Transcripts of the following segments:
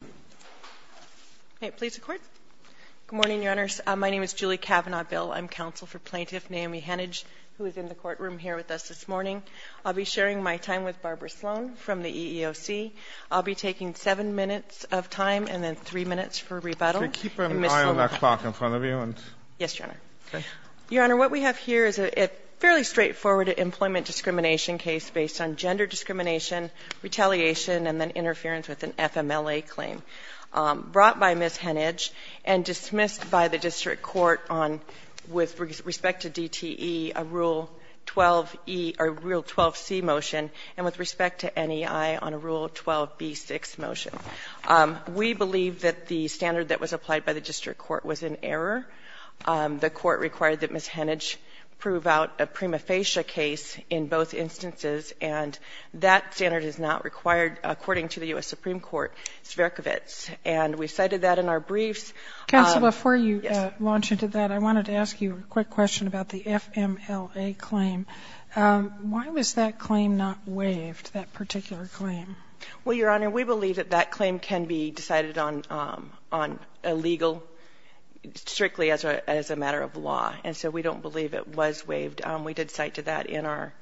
Good morning, Your Honor. My name is Julie Cavanaugh-Bill. I'm counsel for plaintiff Naomi Heneage, who is in the courtroom here with us this morning. I'll be sharing my time with Barbara Sloan from the EEOC. I'll be taking seven minutes of time and then three minutes for rebuttal. So keep an eye on that clock in front of you. Yes, Your Honor. Okay. Your Honor, what we have here is a fairly straightforward employment discrimination case based on gender discrimination, retaliation, and then interference with an FMLA claim brought by Ms. Heneage and dismissed by the district court on, with respect to DTE, a Rule 12e or Rule 12c motion and with respect to NEI on a Rule 12b6 motion. We believe that the standard that was applied by the district court was in error. The court required that Ms. Heneage prove out a prima facie case in both instances, and that standard is not required according to the U.S. Supreme Court. And we cited that in our briefs. Counsel, before you launch into that, I wanted to ask you a quick question about the FMLA claim. Why was that claim not waived, that particular claim? Well, Your Honor, we believe that that claim can be decided on illegal, strictly as a matter of law. And so we don't believe it was waived. We did cite to that in our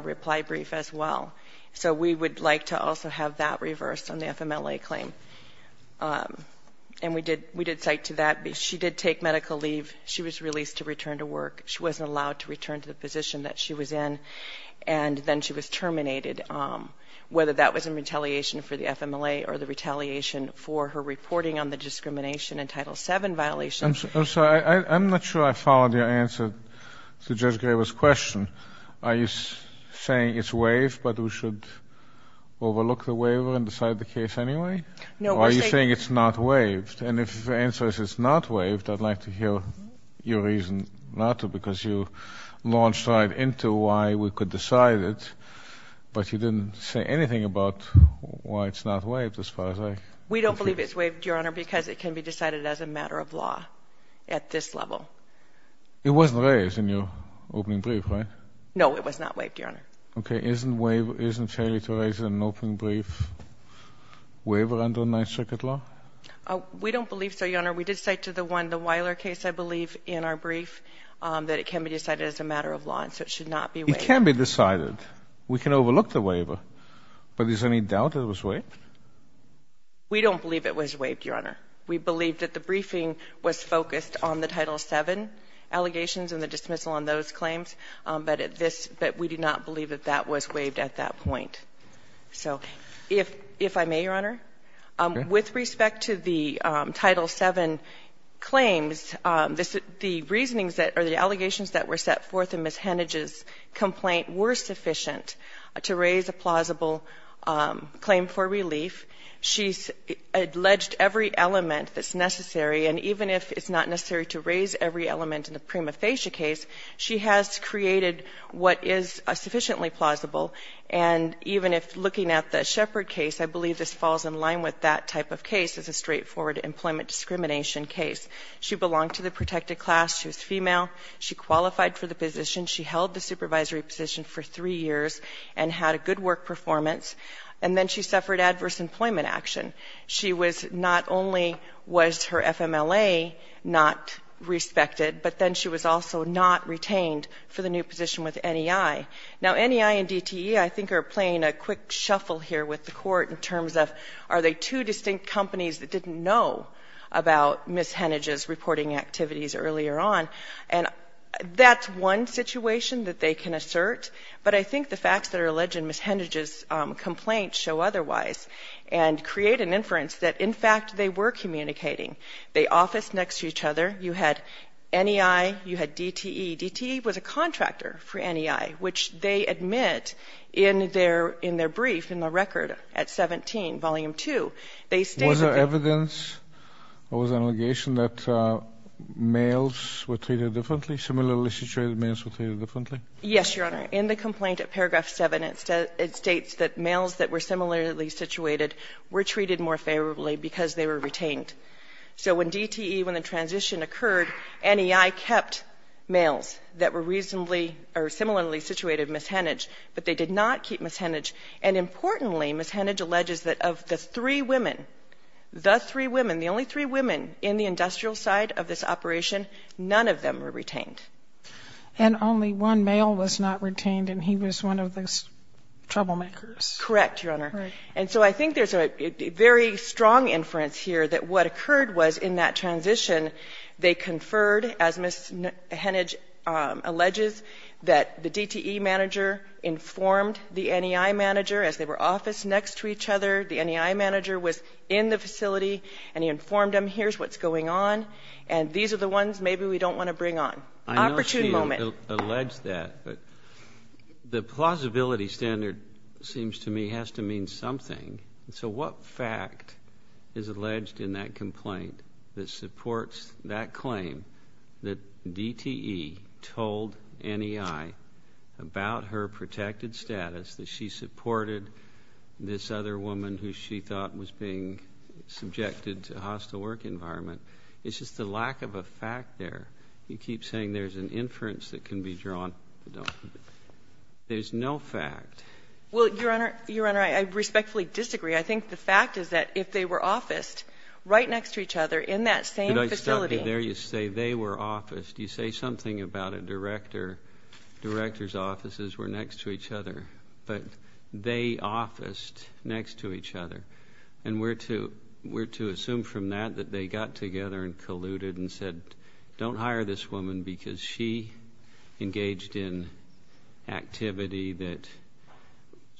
reply brief as well. So we would like to also have that reversed on the FMLA claim. And we did cite to that. She did take medical leave. She was released to return to work. She wasn't allowed to return to the position that she was in. And then she was terminated, whether that was in retaliation for the FMLA or the retaliation for her reporting on the discrimination in Title VII violations. I'm sorry. I'm not sure I followed your answer to Judge Graber's question. Are you saying it's waived, but we should overlook the waiver and decide the case anyway? No. Or are you saying it's not waived? And if your answer is it's not waived, I'd like to hear your reason not to because you launched right into why we could decide it, but you didn't say anything about why it's not waived as far as I'm concerned. We don't believe it's waived, Your Honor, because it can be decided as a matter of law at this level. It wasn't raised in your opening brief, right? No, it was not waived, Your Honor. Okay. Isn't failure to raise an opening brief waiver under Ninth Circuit law? We don't believe so, Your Honor. We did say to the Weiler case, I believe, in our brief that it can be decided as a matter of law, and so it should not be waived. It can be decided. We can overlook the waiver. But is there any doubt that it was waived? We don't believe it was waived, Your Honor. We believe that the briefing was focused on the Title VII allegations and the dismissal on those claims, but we do not believe that that was waived at that point. So if I may, Your Honor, with respect to the Title VII claims, the reasonings that or the allegations that were set forth in Ms. Hennage's complaint were sufficient to raise a plausible claim for relief. She's alleged every element that's necessary, and even if it's not necessary to raise every element in the Prima Facie case, she has created what is sufficiently plausible. And even if looking at the Shepard case, I believe this falls in line with that type of case as a straightforward employment discrimination case. She belonged to the protected class. She was female. She qualified for the position. She held the supervisory position for three years and had a good work performance, and then she suffered adverse employment action. She was not only was her FMLA not respected, but then she was also not retained for the new position with NEI. Now, NEI and DTE, I think, are playing a quick shuffle here with the Court in terms of are they two distinct companies that didn't know about Ms. Hennage's reporting activities earlier on. And that's one situation that they can assert, but I think the facts that are alleged in Ms. Hennage's complaint show otherwise and create an inference that, in fact, they were communicating. They officed next to each other. You had NEI. You had DTE. DTE was a contractor for NEI, which they admit in their brief, in the record, at 17, Volume 2, they stated that the ---- Was there evidence or was there an allegation that males were treated differently, similarly situated males were treated differently? Yes, Your Honor. In the complaint at paragraph 7, it states that males that were similarly situated were treated more favorably because they were retained. So when DTE, when the transition occurred, NEI kept males that were reasonably or similarly situated, Ms. Hennage, but they did not keep Ms. Hennage. And importantly, Ms. Hennage alleges that of the three women, the three women, the only three women in the industrial side of this operation, none of them were retained. And only one male was not retained, and he was one of the troublemakers. Correct, Your Honor. Right. And so I think there's a very strong inference here that what occurred was in that transition, they conferred, as Ms. Hennage alleges, that the DTE manager informed the NEI manager as they were officed next to each other. The NEI manager was in the facility and he informed them, here's what's going on, and these are the ones maybe we don't want to bring on. Opportunity moment. I know she alleged that, but the plausibility standard seems to me has to mean something. So what fact is alleged in that complaint that supports that claim that DTE told NEI about her protected status, that she supported this other woman who she thought was being subjected to a hostile work environment? It's just the lack of a fact there. You keep saying there's an inference that can be drawn. There's no fact. Well, Your Honor, I respectfully disagree. I think the fact is that if they were officed right next to each other in that same facility. Could I stop you there? You say they were officed. You say something about a director. Directors' offices were next to each other. But they officed next to each other. And we're to assume from that that they got together and colluded and said, don't hire this woman because she engaged in activity that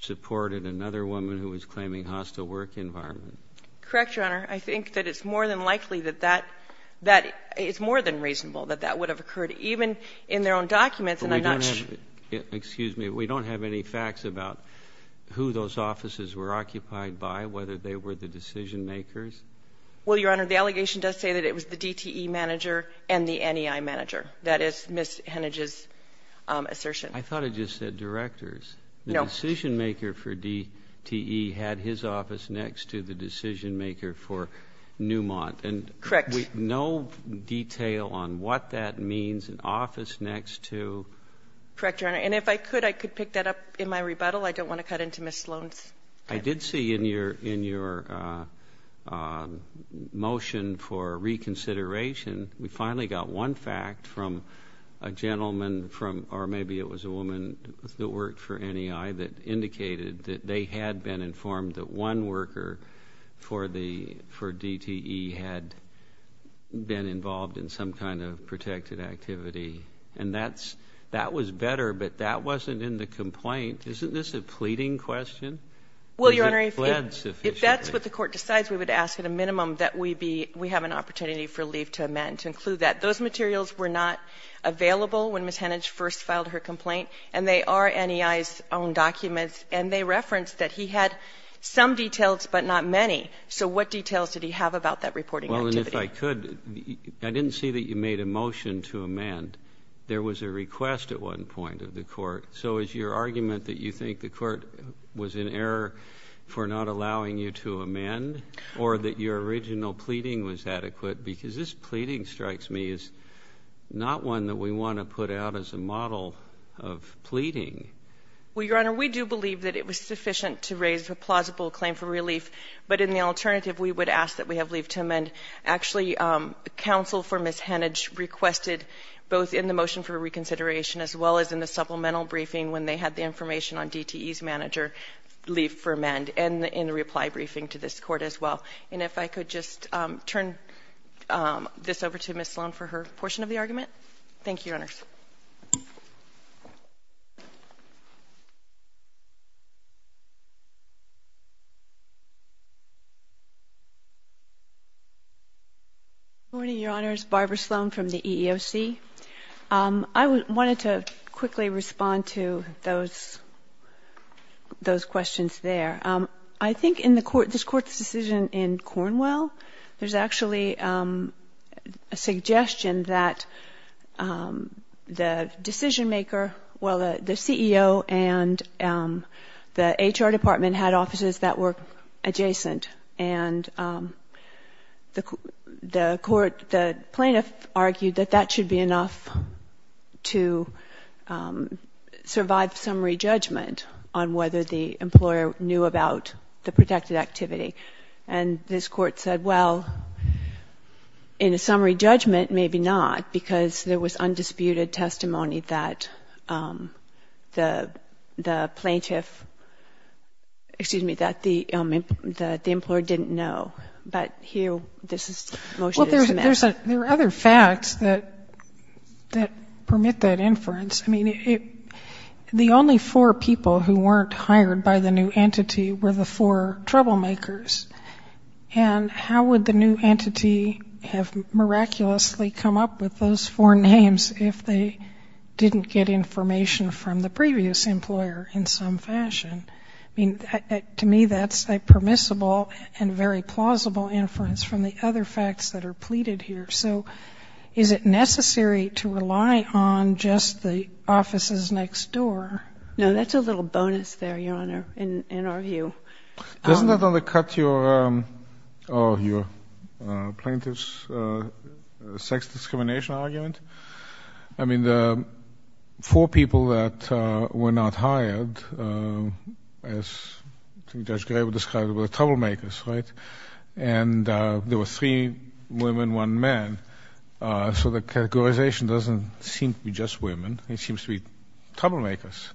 supported another woman who was claiming hostile work environment. Correct, Your Honor. I think that it's more than likely that that is more than reasonable that that would have occurred, even in their own documents. And I'm not sure. Excuse me. We don't have any facts about who those offices were occupied by, whether they were the decision makers? Well, Your Honor, the allegation does say that it was the DTE manager and the NEI manager. That is Ms. Hennage's assertion. I thought it just said directors. No. The decision maker for DTE had his office next to the decision maker for Newmont. Correct. And no detail on what that means, an office next to. Correct, Your Honor. And if I could, I could pick that up in my rebuttal. I don't want to cut into Ms. Sloan's time. I did see in your motion for reconsideration, we finally got one fact from a gentleman from or maybe it was a woman that worked for NEI that indicated that they had been informed that one worker for DTE had been involved in some kind of protected activity. And that was better, but that wasn't in the complaint. Isn't this a pleading question? Well, Your Honor, if that's what the court decides, we would ask at a minimum that we have an opportunity for leave to amend to include that. Those materials were not available when Ms. Hennage first filed her complaint, and they are NEI's own documents, and they reference that he had some details but not many. So what details did he have about that reporting activity? Well, and if I could, I didn't see that you made a motion to amend. There was a request at one point of the court. So is your argument that you think the court was in error for not allowing you to amend or that your original pleading was adequate? Because this pleading strikes me as not one that we want to put out as a model of pleading. Well, Your Honor, we do believe that it was sufficient to raise a plausible claim for relief. But in the alternative, we would ask that we have leave to amend. Actually, counsel for Ms. Hennage requested both in the motion for briefing when they had the information on DTE's manager leave for amend and in the reply briefing to this court as well. And if I could just turn this over to Ms. Sloan for her portion of the argument. Thank you, Your Honors. Good morning, Your Honors. Barbara Sloan from the EEOC. I wanted to quickly respond to those questions there. I think in the court, this Court's decision in Cornwell, there's actually a suggestion that the decisionmaker, well, the CEO and the HR department had offices that were adjacent. And the plaintiff argued that that should be enough to survive summary judgment on whether the employer knew about the protected activity. And this Court said, well, in a summary judgment, maybe not, because there was But here, this motion is to amend. Well, there are other facts that permit that inference. I mean, the only four people who weren't hired by the new entity were the four troublemakers. And how would the new entity have miraculously come up with those four names if they didn't get information from the previous employer in some fashion? I mean, to me, that's a permissible and very plausible inference from the other facts that are pleaded here. So is it necessary to rely on just the offices next door? No, that's a little bonus there, Your Honor, in our view. Doesn't that undercut your plaintiff's sex discrimination argument? I mean, the four people that were not hired, as Judge Graber described, were troublemakers, right? And there were three women, one man. So the categorization doesn't seem to be just women. It seems to be troublemakers.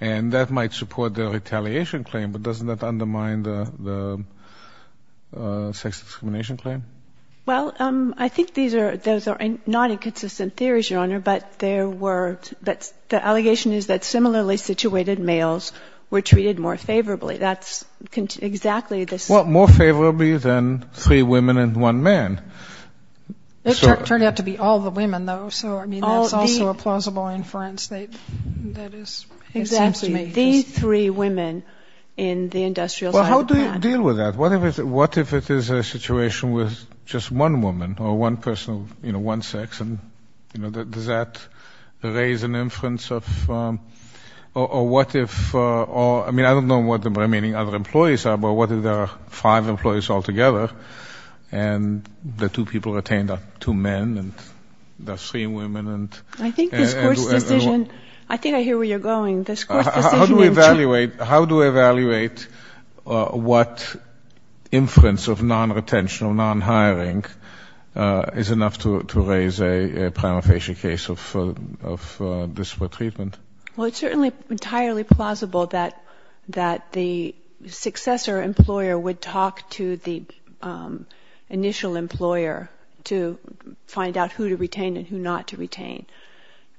And that might support the retaliation claim, but doesn't that undermine the sex discrimination claim? Well, I think those are not inconsistent theories, Your Honor. But the allegation is that similarly situated males were treated more favorably. That's exactly this. Well, more favorably than three women and one man. It turned out to be all the women, though. So, I mean, that's also a plausible inference. Exactly. The three women in the industrial side of the plan. Well, how do you deal with that? What if it is a situation with just one woman or one person, you know, one sex? And, you know, does that raise an inference of or what if or, I mean, I don't know what the remaining other employees are, but what if there are five employees altogether and the two people retained are two men and there are three women? I think this Court's decision, I think I hear where you're going. How do we evaluate what inference of non-retention or non-hiring is enough to raise a prima facie case of disparate treatment? Well, it's certainly entirely plausible that the successor employer would talk to the initial employer to find out who to retain and who not to retain.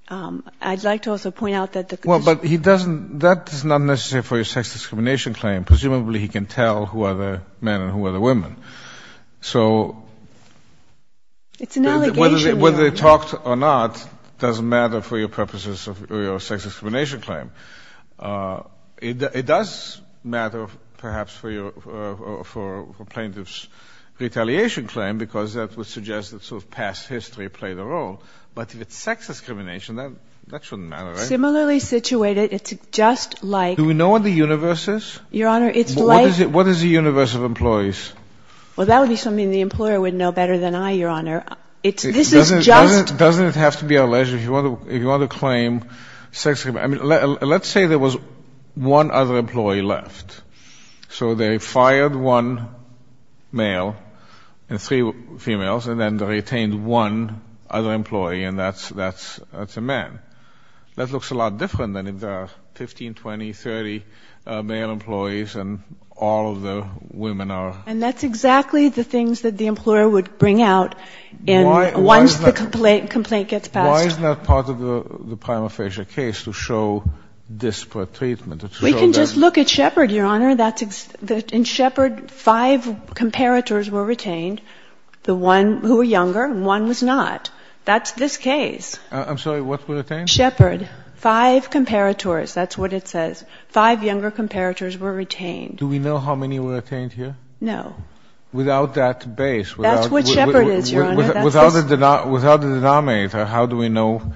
I'd like to also point out that the condition... Well, but he doesn't, that is not necessary for your sex discrimination claim. Presumably he can tell who are the men and who are the women. So... It's an allegation. Whether they talked or not doesn't matter for your purposes of your sex discrimination claim. It does matter perhaps for plaintiff's retaliation claim because that would suggest that sort of past history played a role. But if it's sex discrimination, that shouldn't matter, right? Similarly situated, it's just like... Do we know what the universe is? Your Honor, it's like... What is the universe of employees? Well, that would be something the employer would know better than I, Your Honor. This is just... Doesn't it have to be alleged if you want to claim sex discrimination? Let's say there was one other employee left. So they fired one male and three females, and then they retained one other employee, and that's a man. That looks a lot different than if there are 15, 20, 30 male employees and all of the women are... And that's exactly the things that the employer would bring out once the complaint gets passed. Why is that part of the prima facie case to show disparate treatment? We can just look at Shepard, Your Honor. In Shepard, five comparators were retained. The one who were younger, one was not. That's this case. I'm sorry. What were retained? Shepard. Five comparators. That's what it says. Five younger comparators were retained. Do we know how many were retained here? No. Without that base. That's what Shepard is, Your Honor. Without the denominator, how do we know?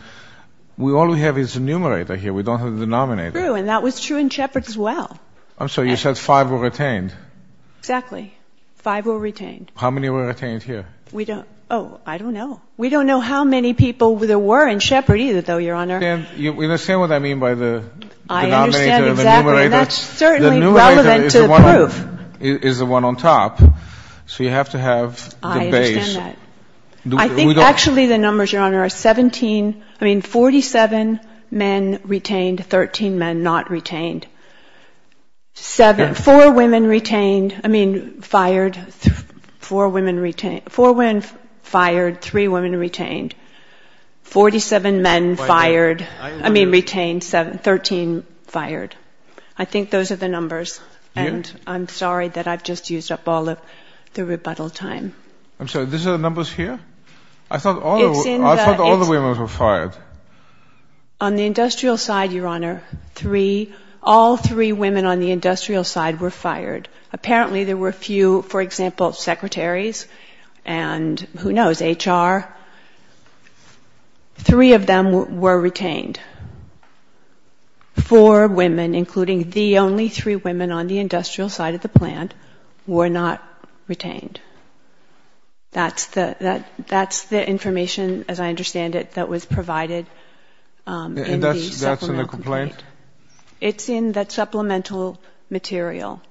All we have is the numerator here. We don't have the denominator. And that was true in Shepard as well. I'm sorry. You said five were retained. Exactly. Five were retained. How many were retained here? Oh, I don't know. We don't know how many people there were in Shepard either, though, Your Honor. You understand what I mean by the denominator and the numerator? I understand exactly, and that's certainly relevant to the proof. The numerator is the one on top, so you have to have the base. I understand that. Actually, the numbers, Your Honor, are 17. I mean, 47 men retained, 13 men not retained. Four women retained, I mean, fired. Four women fired, three women retained. 47 men fired, I mean, retained, 13 fired. I think those are the numbers, and I'm sorry that I've just used up all of the rebuttal time. I'm sorry, these are the numbers here? I thought all the women were fired. On the industrial side, Your Honor, all three women on the industrial side were fired. Apparently there were a few, for example, secretaries and who knows, HR. Three of them were retained. Four women, including the only three women on the industrial side of the plant, were not retained. That's the information, as I understand it, that was provided in the supplemental complaint. And that's in the complaint? It's in that supplemental material,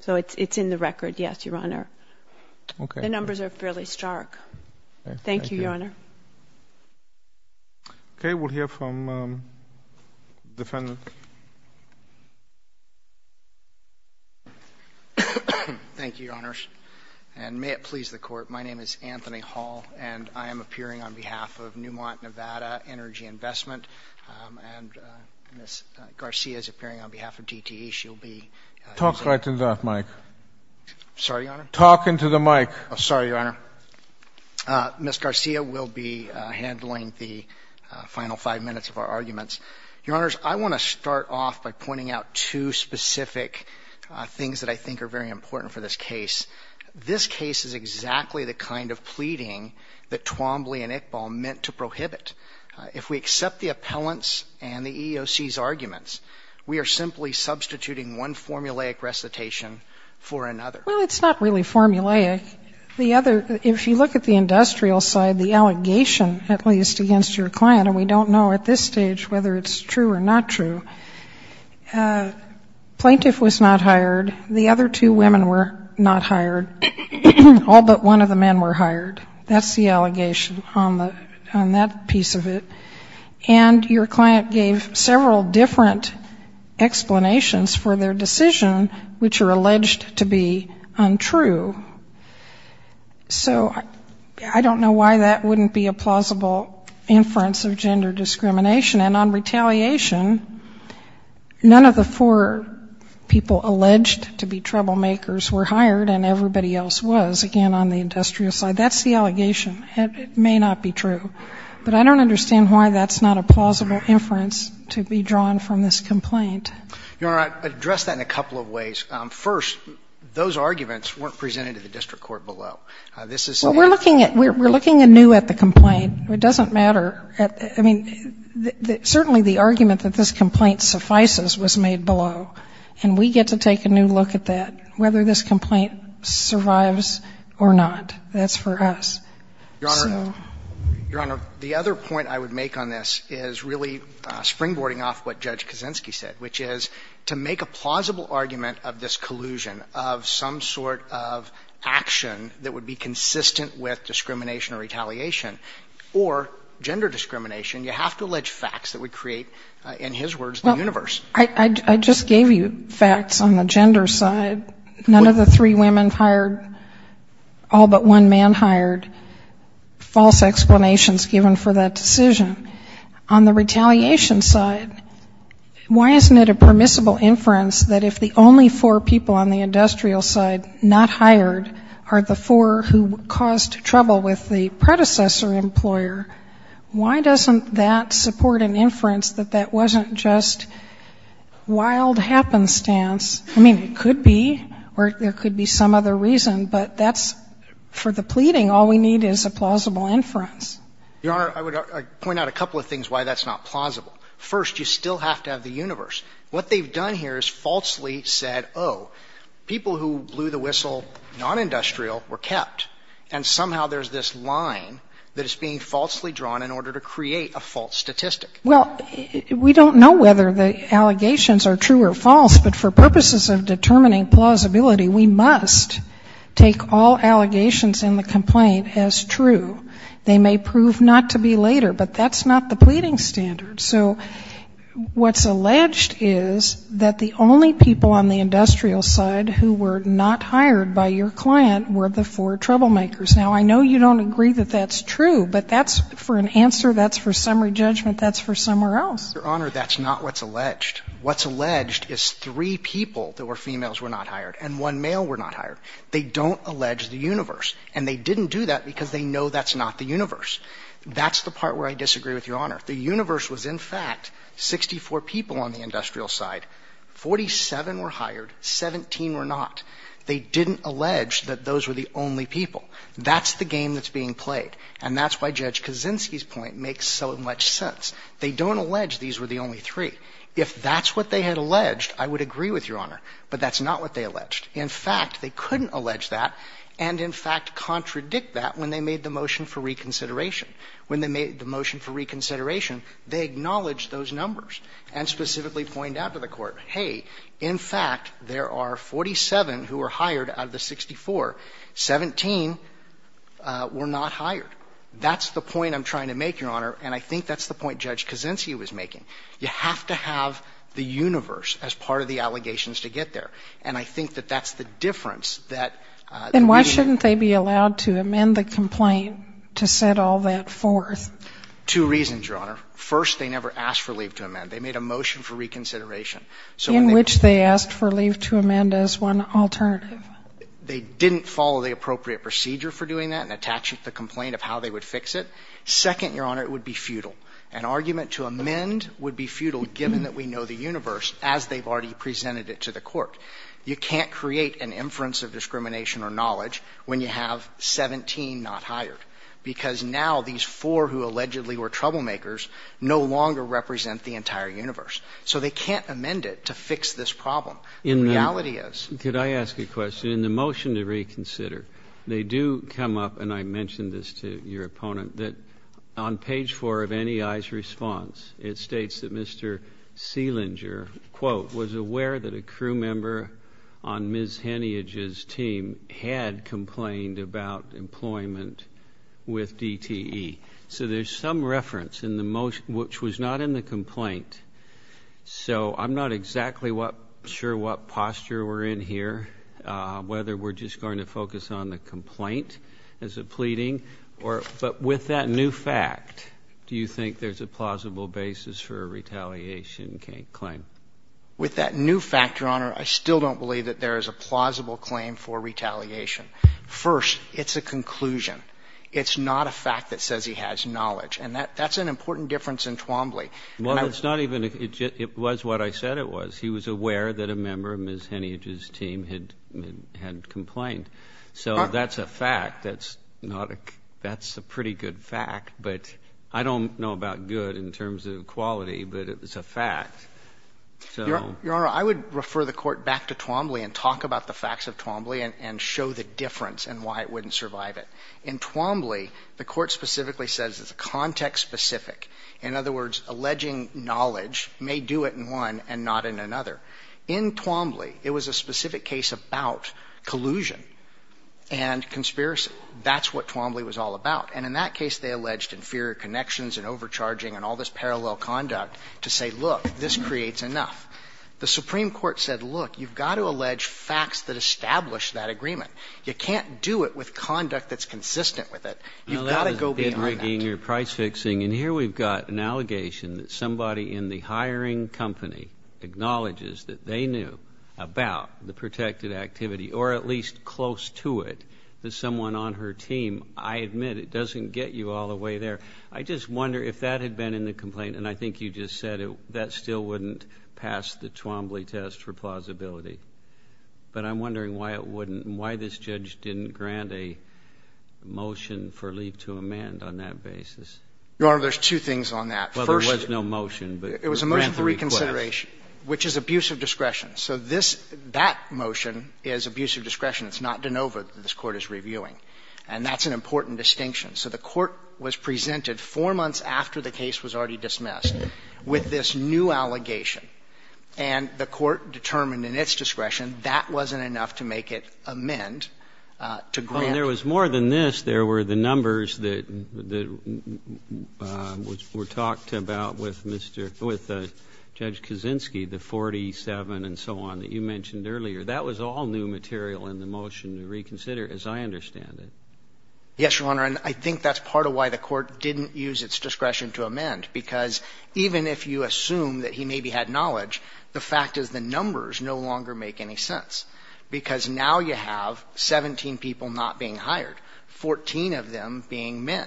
so it's in the record, yes, Your Honor. Okay. The numbers are fairly stark. Thank you, Your Honor. Okay. Okay, we'll hear from the defendant. Thank you, Your Honors. And may it please the Court, my name is Anthony Hall, and I am appearing on behalf of Newmont, Nevada Energy Investment, and Ms. Garcia is appearing on behalf of DTE. She'll be using the mic. Talk right into that mic. Sorry, Your Honor? Talk into the mic. Sorry, Your Honor. Ms. Garcia will be handling the final five minutes of our arguments. Your Honors, I want to start off by pointing out two specific things that I think are very important for this case. This case is exactly the kind of pleading that Twombly and Iqbal meant to prohibit. If we accept the appellant's and the EEOC's arguments, we are simply substituting one formulaic recitation for another. Well, it's not really formulaic. If you look at the industrial side, the allegation, at least, against your client, and we don't know at this stage whether it's true or not true, plaintiff was not hired. The other two women were not hired. All but one of the men were hired. That's the allegation on that piece of it. And your client gave several different explanations for their decision, which are alleged to be untrue. So I don't know why that wouldn't be a plausible inference of gender discrimination. And on retaliation, none of the four people alleged to be troublemakers were hired, and everybody else was, again, on the industrial side. That's the allegation. It may not be true. But I don't understand why that's not a plausible inference to be drawn from this complaint. Your Honor, I'd address that in a couple of ways. First, those arguments weren't presented to the district court below. This is said. Well, we're looking at new at the complaint. It doesn't matter. I mean, certainly the argument that this complaint suffices was made below, and we get to take a new look at that, whether this complaint survives or not. That's for us. Your Honor, your Honor, the other point I would make on this is really springboarding off what Judge Kaczynski said, which is to make a plausible argument of this collusion of some sort of action that would be consistent with discrimination or retaliation or gender discrimination, you have to allege facts that would create, in his words, the universe. I just gave you facts on the gender side. None of the three women hired, all but one man hired. False explanations given for that decision. On the retaliation side, why isn't it a permissible inference that if the only four people on the industrial side not hired are the four who caused trouble with the predecessor employer, why doesn't that support an inference that that wasn't just wild happenstance? I mean, it could be, or there could be some other reason, but that's, for the pleading, all we need is a plausible inference. Your Honor, I would point out a couple of things why that's not plausible. First, you still have to have the universe. What they've done here is falsely said, oh, people who blew the whistle non-industrial were kept, and somehow there's this line that is being falsely drawn in order to create a false statistic. Well, we don't know whether the allegations are true or false, but for purposes of determining plausibility, we must take all allegations in the complaint as true. They may prove not to be later, but that's not the pleading standard. So what's alleged is that the only people on the industrial side who were not hired by your client were the four troublemakers. Now, I know you don't agree that that's true, but that's for an answer, that's for summary judgment, that's for somewhere else. Your Honor, that's not what's alleged. What's alleged is three people that were females were not hired and one male were not hired. They don't allege the universe, and they didn't do that because they know that's not the universe. That's the part where I disagree with Your Honor. The universe was, in fact, 64 people on the industrial side, 47 were hired, 17 were not. They didn't allege that those were the only people. That's the game that's being played. And that's why Judge Kaczynski's point makes so much sense. They don't allege these were the only three. If that's what they had alleged, I would agree with Your Honor. But that's not what they alleged. In fact, they couldn't allege that and, in fact, contradict that when they made the motion for reconsideration. When they made the motion for reconsideration, they acknowledged those numbers and specifically pointed out to the Court, hey, in fact, there are 47 who were hired out of the 64. Seventeen were not hired. That's the point I'm trying to make, Your Honor, and I think that's the point Judge Kaczynski was making. You have to have the universe as part of the allegations to get there. And I think that that's the difference that we need. And why shouldn't they be allowed to amend the complaint to set all that forth? Two reasons, Your Honor. First, they never asked for leave to amend. They made a motion for reconsideration. So when they didn't follow the appropriate procedure for doing that and attach it to the complaint of how they would fix it, second, Your Honor, it would be futile. An argument to amend would be futile given that we know the universe as they've already presented it to the Court. You can't create an inference of discrimination or knowledge when you have 17 not hired, because now these four who allegedly were troublemakers no longer represent the entire universe. So they can't amend it to fix this problem. The reality is... Could I ask a question? In the motion to reconsider, they do come up, and I mentioned this to your opponent, that on page four of NEI's response, it states that Mr. Selinger, quote, was aware that a crew member on Ms. Heniage's team had complained about employment with DTE. So there's some reference in the motion which was not in the complaint. So I'm not exactly sure what posture we're in here, whether we're just going to focus on the complaint as a pleading. But with that new fact, do you think there's a plausible basis for a retaliation claim? With that new fact, Your Honor, I still don't believe that there is a plausible claim for retaliation. First, it's a conclusion. It's not a fact that says he has knowledge. And that's an important difference in Twombly. Well, it's not even ‑‑ it was what I said it was. He was aware that a member of Ms. Heniage's team had complained. So that's a fact. That's not a ‑‑ that's a pretty good fact. But I don't know about good in terms of quality, but it was a fact. So ‑‑ Your Honor, I would refer the Court back to Twombly and talk about the facts of Twombly and show the difference and why it wouldn't survive it. In Twombly, the Court specifically says it's context specific. In other words, alleging knowledge may do it in one and not in another. In Twombly, it was a specific case about collusion and conspiracy. That's what Twombly was all about. And in that case, they alleged inferior connections and overcharging and all this parallel conduct to say, look, this creates enough. The Supreme Court said, look, you've got to allege facts that establish that agreement. You can't do it with conduct that's consistent with it. You've got to go beyond that. Well, that was bid rigging or price fixing. And here we've got an allegation that somebody in the hiring company acknowledges that they knew about the protected activity or at least close to it, that someone on her team. I admit it doesn't get you all the way there. I just wonder if that had been in the complaint. And I think you just said that still wouldn't pass the Twombly test for plausibility. But I'm wondering why it wouldn't and why this judge didn't grant a motion for leave to amend on that basis. Your Honor, there's two things on that. Well, there was no motion, but grant the request. It was a motion for reconsideration, which is abuse of discretion. So this – that motion is abuse of discretion. It's not de novo that this Court is reviewing. And that's an important distinction. So the Court was presented four months after the case was already dismissed with this new allegation. And the Court determined in its discretion that wasn't enough to make it amend to grant. Well, there was more than this. There were the numbers that were talked about with Judge Kaczynski, the 47 and so on, that you mentioned earlier. That was all new material in the motion to reconsider, as I understand it. Yes, Your Honor. And I think that's part of why the Court didn't use its discretion to amend, because even if you assume that he maybe had knowledge, the fact is the numbers no longer make any sense. Because now you have 17 people not being hired, 14 of them being men.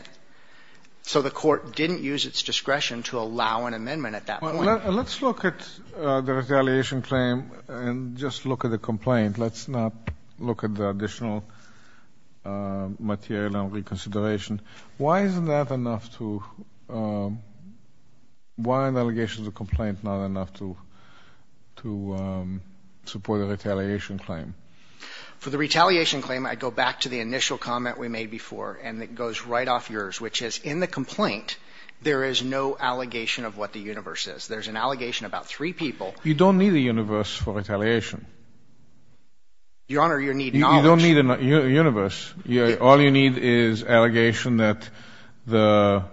So the Court didn't use its discretion to allow an amendment at that point. Well, let's look at the retaliation claim and just look at the complaint. Let's not look at the additional material on reconsideration. Why isn't that enough to why an allegation is a complaint not enough to support a retaliation claim? For the retaliation claim, I go back to the initial comment we made before, and it goes right off yours, which is in the complaint, there is no allegation of what the universe is. There's an allegation about three people. You don't need a universe for retaliation. Your Honor, you need knowledge. You don't need a universe. All you need is allegation that the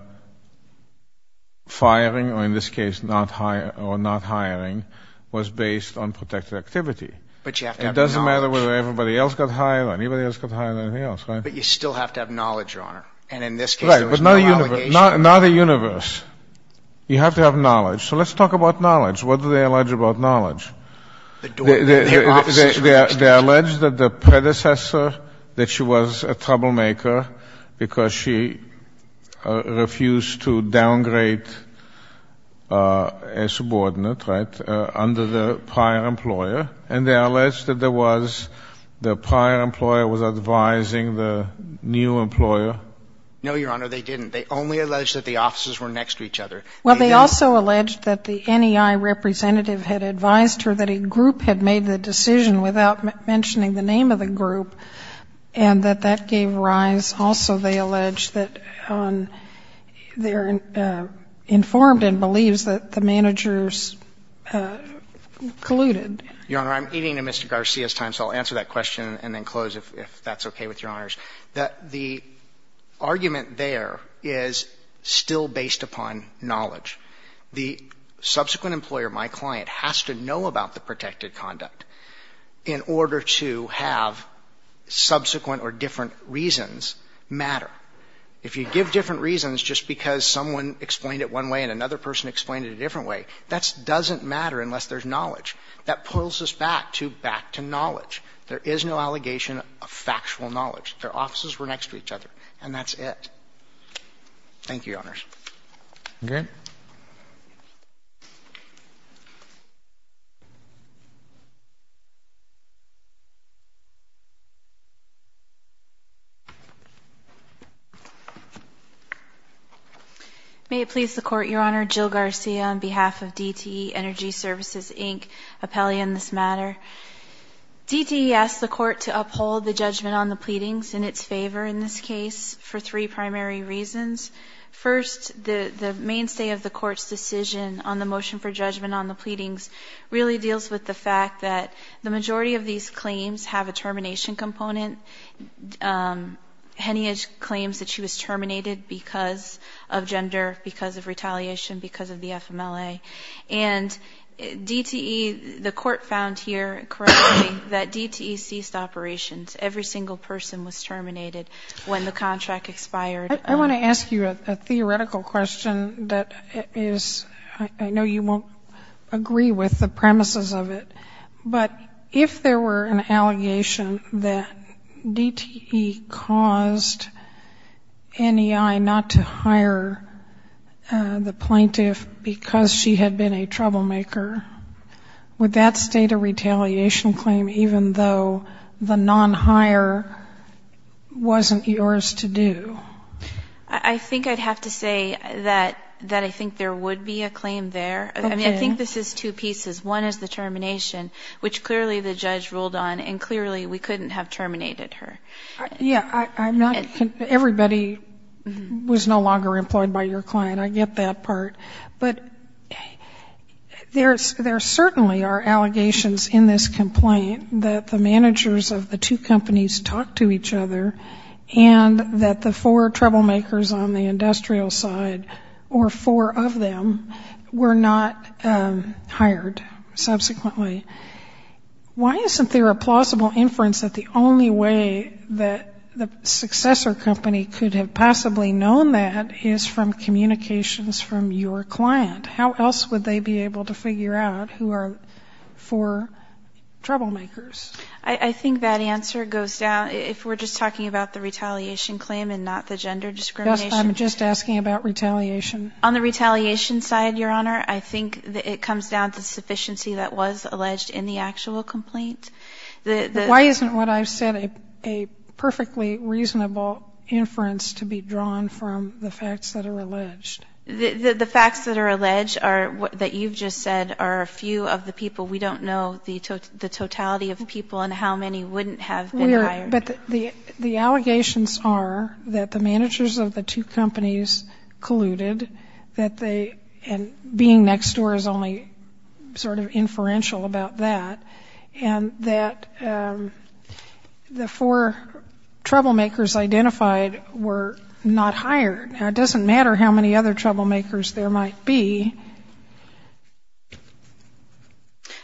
firing, or in this case not hiring, was based on protected activity. It doesn't matter whether everybody else got hired or anybody else got hired or anything else. Right? But you still have to have knowledge, Your Honor. And in this case there was no allegation. Right. But not a universe. You have to have knowledge. So let's talk about knowledge. What do they allege about knowledge? They allege that the predecessor, that she was a troublemaker because she refused to downgrade a subordinate, right, under the prior employer. And they allege that there was the prior employer was advising the new employer. No, Your Honor, they didn't. They only allege that the officers were next to each other. Well, they also allege that the NEI representative had advised her that a group had made the decision without mentioning the name of the group and that that gave rise. Also, they allege that they're informed and believes that the managers colluded. Your Honor, I'm eating in Mr. Garcia's time, so I'll answer that question and then close if that's okay with Your Honors. That the argument there is still based upon knowledge. The subsequent employer, my client, has to know about the protected conduct in order to have subsequent or different reasons matter. If you give different reasons just because someone explained it one way and another person explained it a different way, that doesn't matter unless there's knowledge. That pulls us back to back to knowledge. There is no allegation of factual knowledge. Their offices were next to each other, and that's it. Thank you, Your Honors. Okay. May it please the Court, Your Honor, Jill Garcia on behalf of DTE Energy Services, Inc., appellee in this matter. DTE asked the Court to uphold the judgment on the pleadings in its favor in this case for three primary reasons. First, the mainstay of the Court's decision on the motion for judgment on the pleadings really deals with the fact that the majority of these claims have a termination component. Heneage claims that she was terminated because of gender, because of retaliation, because of the FMLA. And DTE, the Court found here correctly that DTE ceased operations. Every single person was terminated when the contract expired. I want to ask you a theoretical question that is, I know you won't agree with the premises of it, but if there were an allegation that DTE caused NEI not to hire the plaintiff because she had been a troublemaker, would that state a retaliation claim, even though the non-hire wasn't yours to do? I think I'd have to say that I think there would be a claim there. I mean, I think this is two pieces. One is the termination, which clearly the judge ruled on, and clearly we couldn't have terminated her. Everybody was no longer employed by your client. I get that part. But there certainly are allegations in this complaint that the managers of the two companies talked to each other and that the four troublemakers on the industrial side, or four of them, were not hired subsequently. Why isn't there a plausible inference that the only way that the successor company could have possibly known that is from communications from your client? How else would they be able to figure out who are four troublemakers? I think that answer goes down, if we're just talking about the retaliation claim and not the gender discrimination. I'm just asking about retaliation. On the retaliation side, Your Honor, I think it comes down to sufficiency that was alleged in the actual complaint. Why isn't what I've said a perfectly reasonable inference to be drawn from the facts that are alleged? The facts that are alleged that you've just said are a few of the people. We don't know the totality of people and how many wouldn't have been hired. But the allegations are that the managers of the two companies colluded and being next door is only sort of inferential about that, and that the four troublemakers identified were not hired. Now, it doesn't matter how many other troublemakers there might be.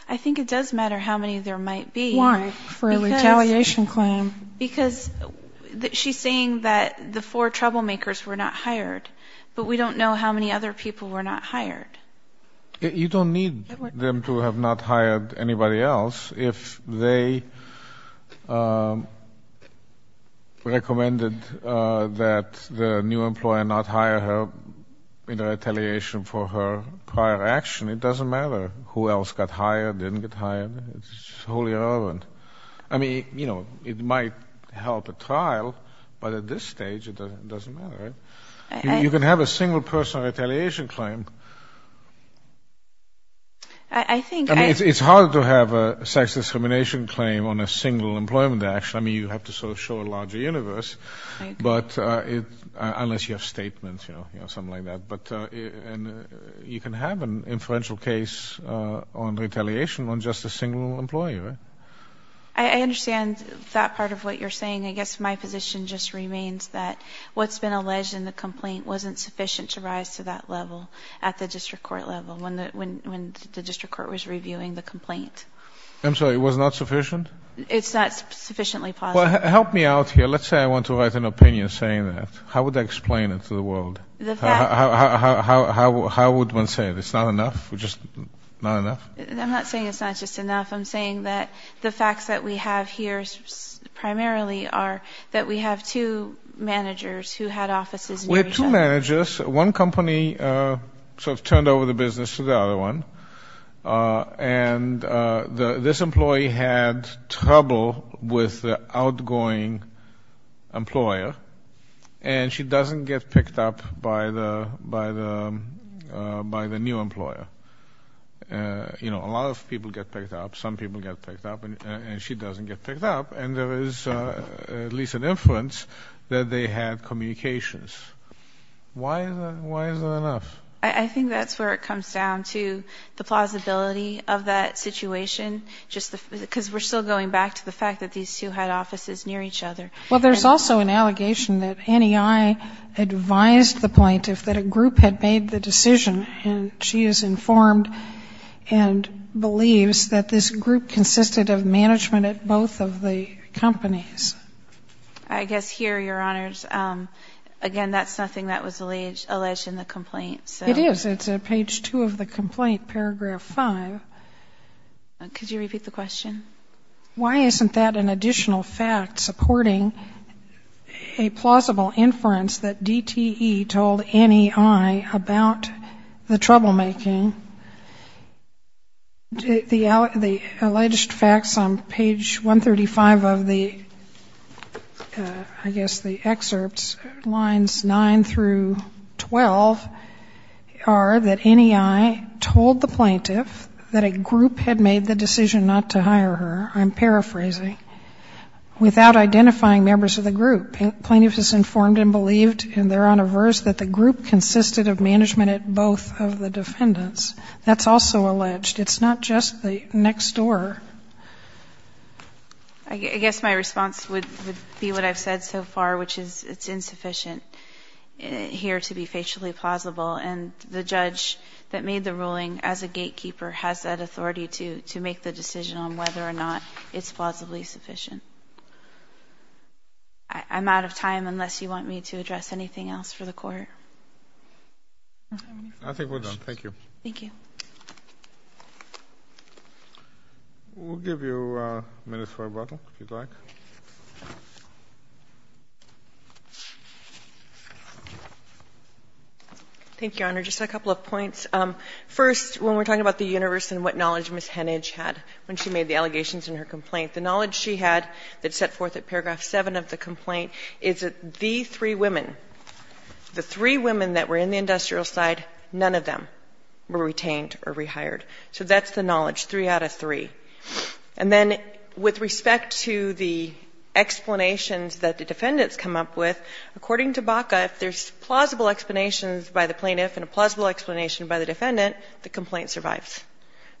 I think it does matter how many there might be. Why? For a retaliation claim. Because she's saying that the four troublemakers were not hired, but we don't know how many other people were not hired. You don't need them to have not hired anybody else. If they recommended that the new employer not hire her in retaliation for her prior action, it doesn't matter who else got hired, didn't get hired. It's wholly irrelevant. I mean, you know, it might help at trial, but at this stage it doesn't matter. You can have a single person retaliation claim. I mean, it's hard to have a sex discrimination claim on a single employment action. I mean, you have to sort of show a larger universe, unless you have statements, you know, something like that. But you can have an inferential case on retaliation on just a single employer. I understand that part of what you're saying. I guess my position just remains that what's been alleged in the complaint wasn't sufficient to rise to that level at the district court level when the district court was reviewing the complaint. I'm sorry, it was not sufficient? It's not sufficiently positive. Well, help me out here. Let's say I want to write an opinion saying that. How would I explain it to the world? How would one say it? It's not enough? I'm not saying it's not just enough. I'm saying that the facts that we have here primarily are that we have two managers who had offices. We have two managers. One company sort of turned over the business to the other one, and this employee had trouble with the outgoing employer, and she doesn't get picked up by the new employer. A lot of people get picked up. Some people get picked up, and she doesn't get picked up, and there is at least an inference that they had communications. Why is that enough? I think that's where it comes down to the plausibility of that situation because we're still going back to the fact that these two had offices near each other. Well, there's also an allegation that NEI advised the plaintiff that a group had made the decision, and she is informed and believes that this group consisted of management at both of the companies. I guess here, Your Honors, again, that's nothing that was alleged in the complaint. It is. It's at page 2 of the complaint, paragraph 5. Could you repeat the question? Why isn't that an additional fact supporting a plausible inference that DTE told NEI about the troublemaking? The alleged facts on page 135 of the, I guess, the excerpts, lines 9 through 12, are that NEI told the plaintiff that a group had made the decision not to hire her, I'm paraphrasing, without identifying members of the group. Plaintiff is informed and believed in their honor verse that the group consisted of management at both of the defendants. That's also alleged. It's not just the next door. I guess my response would be what I've said so far, which is it's insufficient here to be facially plausible, and the judge that made the ruling as a gatekeeper has that authority to make the decision on whether or not it's plausibly sufficient. I'm out of time unless you want me to address anything else for the Court. I think we're done. Thank you. Thank you. We'll give you minutes for rebuttal, if you'd like. Thank you, Your Honor. Just a couple of points. First, when we're talking about the universe and what knowledge Ms. Hennage had when she made the allegations in her complaint, the knowledge she had that's set forth at paragraph 7 of the complaint is that the three women, the three women that were in the industrial side, none of them were retained or rehired. So that's the knowledge, three out of three. And then with respect to the explanations that the defendants come up with, according to BACA, if there's plausible explanations by the plaintiff and a plausible explanation by the defendant, the complaint survives.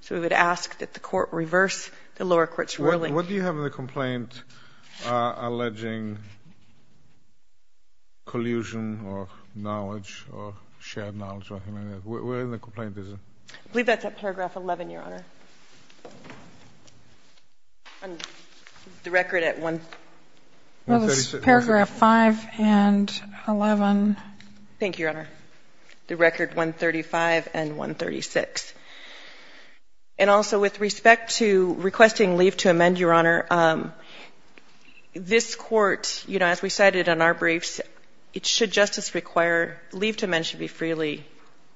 So we would ask that the Court reverse the lower court's ruling. What do you have in the complaint alleging collusion or knowledge or shared knowledge? Where in the complaint is it? I believe that's at paragraph 11, Your Honor. The record at one. It was paragraph 5 and 11. Thank you, Your Honor. The record 135 and 136. And also with respect to requesting leave to amend, Your Honor, this Court, you know, as we cited in our briefs, it should just as require leave to amend should be freely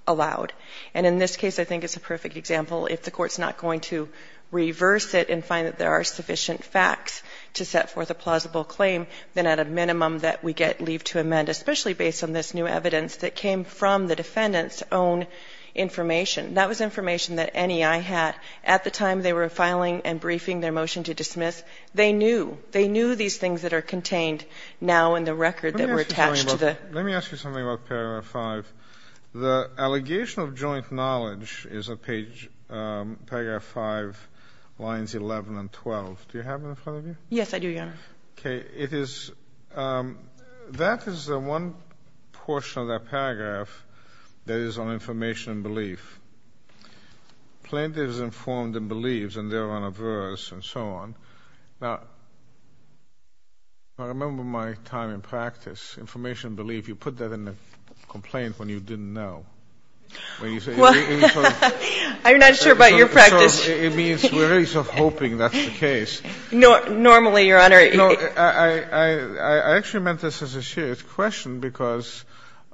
allowed. And in this case, I think it's a perfect example. If the Court's not going to reverse it and find that there are sufficient facts to set forth a plausible claim, then at a minimum that we get leave to amend, especially based on this new evidence that came from the defendant's own information. That was information that NEI had at the time they were filing and briefing their motion to dismiss. They knew. They knew these things that are contained now in the record that were attached to the ---- Let me ask you something about paragraph 5. The allegation of joint knowledge is at page paragraph 5, lines 11 and 12. Do you have them in front of you? Yes, I do, Your Honor. Okay. It is ---- That is the one portion of that paragraph that is on information and belief. Plaintiff is informed and believes, and they're on a verse and so on. Now, I remember my time in practice. Information and belief, you put that in a complaint when you didn't know. When you say ---- I'm not sure about your practice. It means we're really self-hoping that's the case. Normally, Your Honor ---- I actually meant this as a serious question because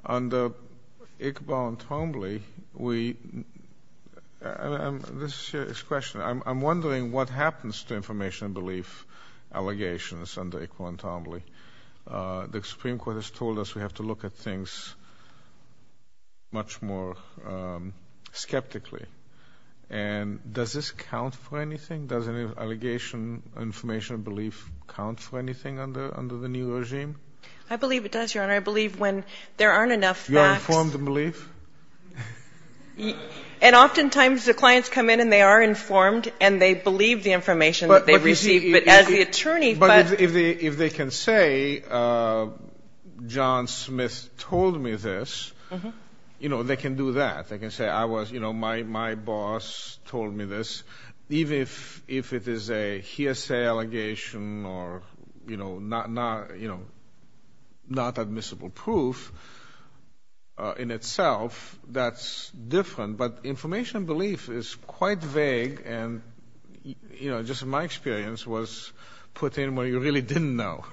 under ICBAO and TOMBLY, we ---- This is a serious question. I'm wondering what happens to information and belief allegations under ICBAO and TOMBLY. The Supreme Court has told us we have to look at things much more skeptically. And does this count for anything? Does an allegation of information and belief count for anything under the new regime? I believe it does, Your Honor. I believe when there aren't enough facts ---- You are informed and believe? And oftentimes the clients come in, and they are informed, and they believe the information that they receive. But as the attorney, but ---- But if they can say, John Smith told me this, you know, they can do that. They can say I was, you know, my boss told me this. Even if it is a hearsay allegation or, you know, not admissible proof in itself, that's different. But information and belief is quite vague and, you know, just my experience was put in where you really didn't know.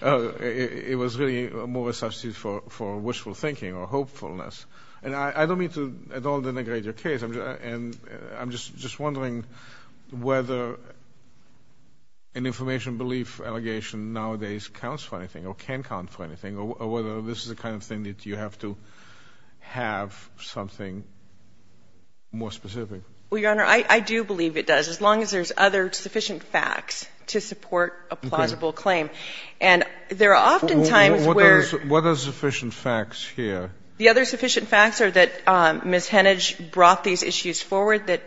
It was really more a substitute for wishful thinking or hopefulness. And I don't mean to at all denigrate your case. And I'm just wondering whether an information and belief allegation nowadays counts for anything or can count for anything or whether this is the kind of thing that you have to have something more specific. Well, Your Honor, I do believe it does as long as there's other sufficient facts to support a plausible claim. And there are oftentimes where ---- What are sufficient facts here? The other sufficient facts are that Ms. Hennage brought these issues forward, that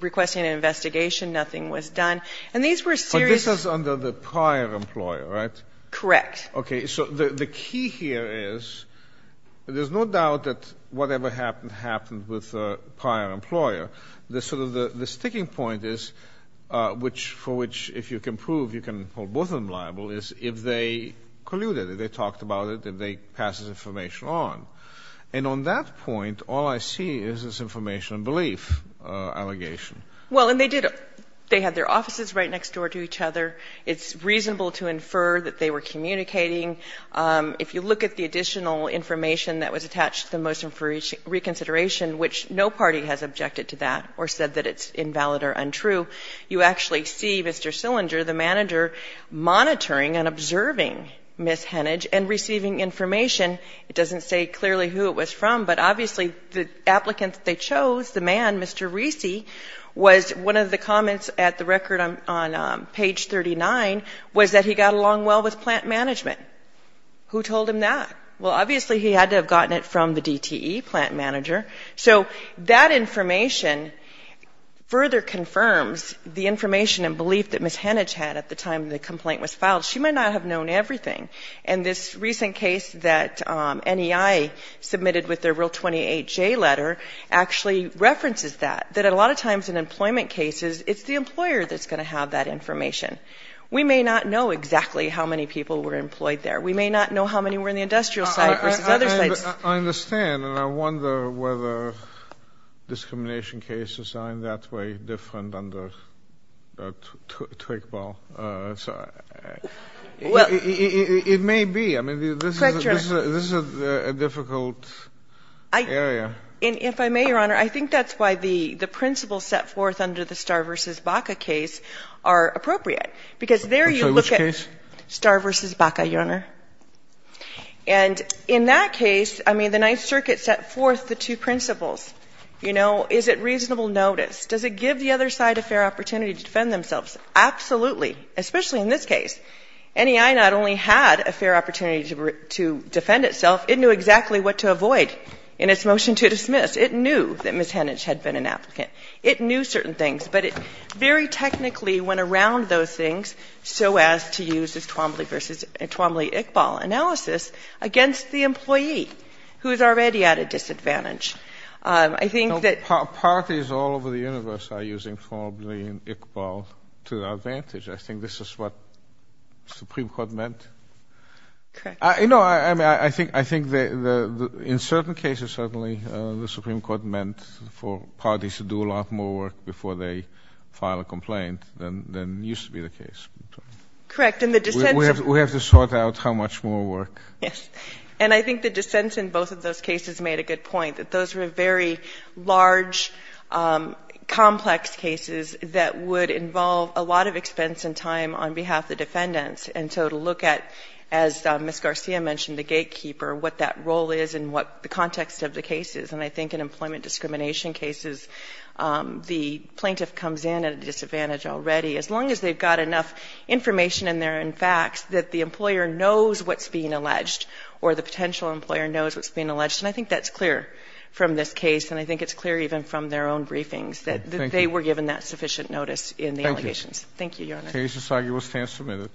requesting an investigation, nothing was done. And these were serious ---- But this is under the prior employer, right? Correct. Okay. So the key here is there's no doubt that whatever happened happened with the prior employer. The sort of the sticking point is which for which if you can prove you can hold both of them liable is if they colluded, if they talked about it, if they passed this information on. And on that point, all I see is this information and belief allegation. Well, and they did. They had their offices right next door to each other. It's reasonable to infer that they were communicating. If you look at the additional information that was attached to the motion for reconsideration, which no party has objected to that or said that it's invalid or untrue, you actually see Mr. Sillinger, the manager, monitoring and observing Ms. Hennage and receiving information. It doesn't say clearly who it was from, but obviously the applicants they chose, the man, Mr. Riese, was one of the comments at the record on page 39 was that he got along well with plant management. Who told him that? Well, obviously he had to have gotten it from the DTE plant manager. So that information further confirms the information and belief that Ms. Hennage had at the time the complaint was filed. She might not have known everything. And this recent case that NEI submitted with their Rule 28J letter actually references that, that a lot of times in employment cases it's the employer that's going to have that information. We may not know exactly how many people were employed there. We may not know how many were in the industrial site versus other sites. But I understand and I wonder whether discrimination cases are in that way different under Twigball. It may be. I mean, this is a difficult area. And if I may, Your Honor, I think that's why the principles set forth under the Starr v. Baca case are appropriate. Because there you look at- Which case? Starr v. Baca, Your Honor. And in that case, I mean, the Ninth Circuit set forth the two principles. You know, is it reasonable notice? Does it give the other side a fair opportunity to defend themselves? Absolutely. Especially in this case. NEI not only had a fair opportunity to defend itself, it knew exactly what to avoid in its motion to dismiss. It knew that Ms. Hennage had been an applicant. It knew certain things. But it very technically went around those things so as to use this Twombly-Iqbal analysis against the employee, who is already at a disadvantage. I think that- Parties all over the universe are using Twombly and Iqbal to their advantage. I think this is what the Supreme Court meant. Correct. No, I mean, I think that in certain cases, certainly, the Supreme Court meant for parties to do a lot more work before they file a complaint than used to be the case. Correct. And the dissents- We have to sort out how much more work. Yes. And I think the dissents in both of those cases made a good point, that those were very large, complex cases that would involve a lot of expense and time on behalf of the defendants. And so to look at, as Ms. Garcia mentioned, the gatekeeper, what that role is and what the context of the case is, and I think in employment discrimination cases, the plaintiff comes in at a disadvantage already, as long as they've got enough information in there and facts that the employer knows what's being alleged or the potential employer knows what's being alleged. And I think that's clear from this case and I think it's clear even from their own briefings that they were given that sufficient notice in the allegations. Thank you. Thank you, Your Honor. The case is signed. You will stand submitted.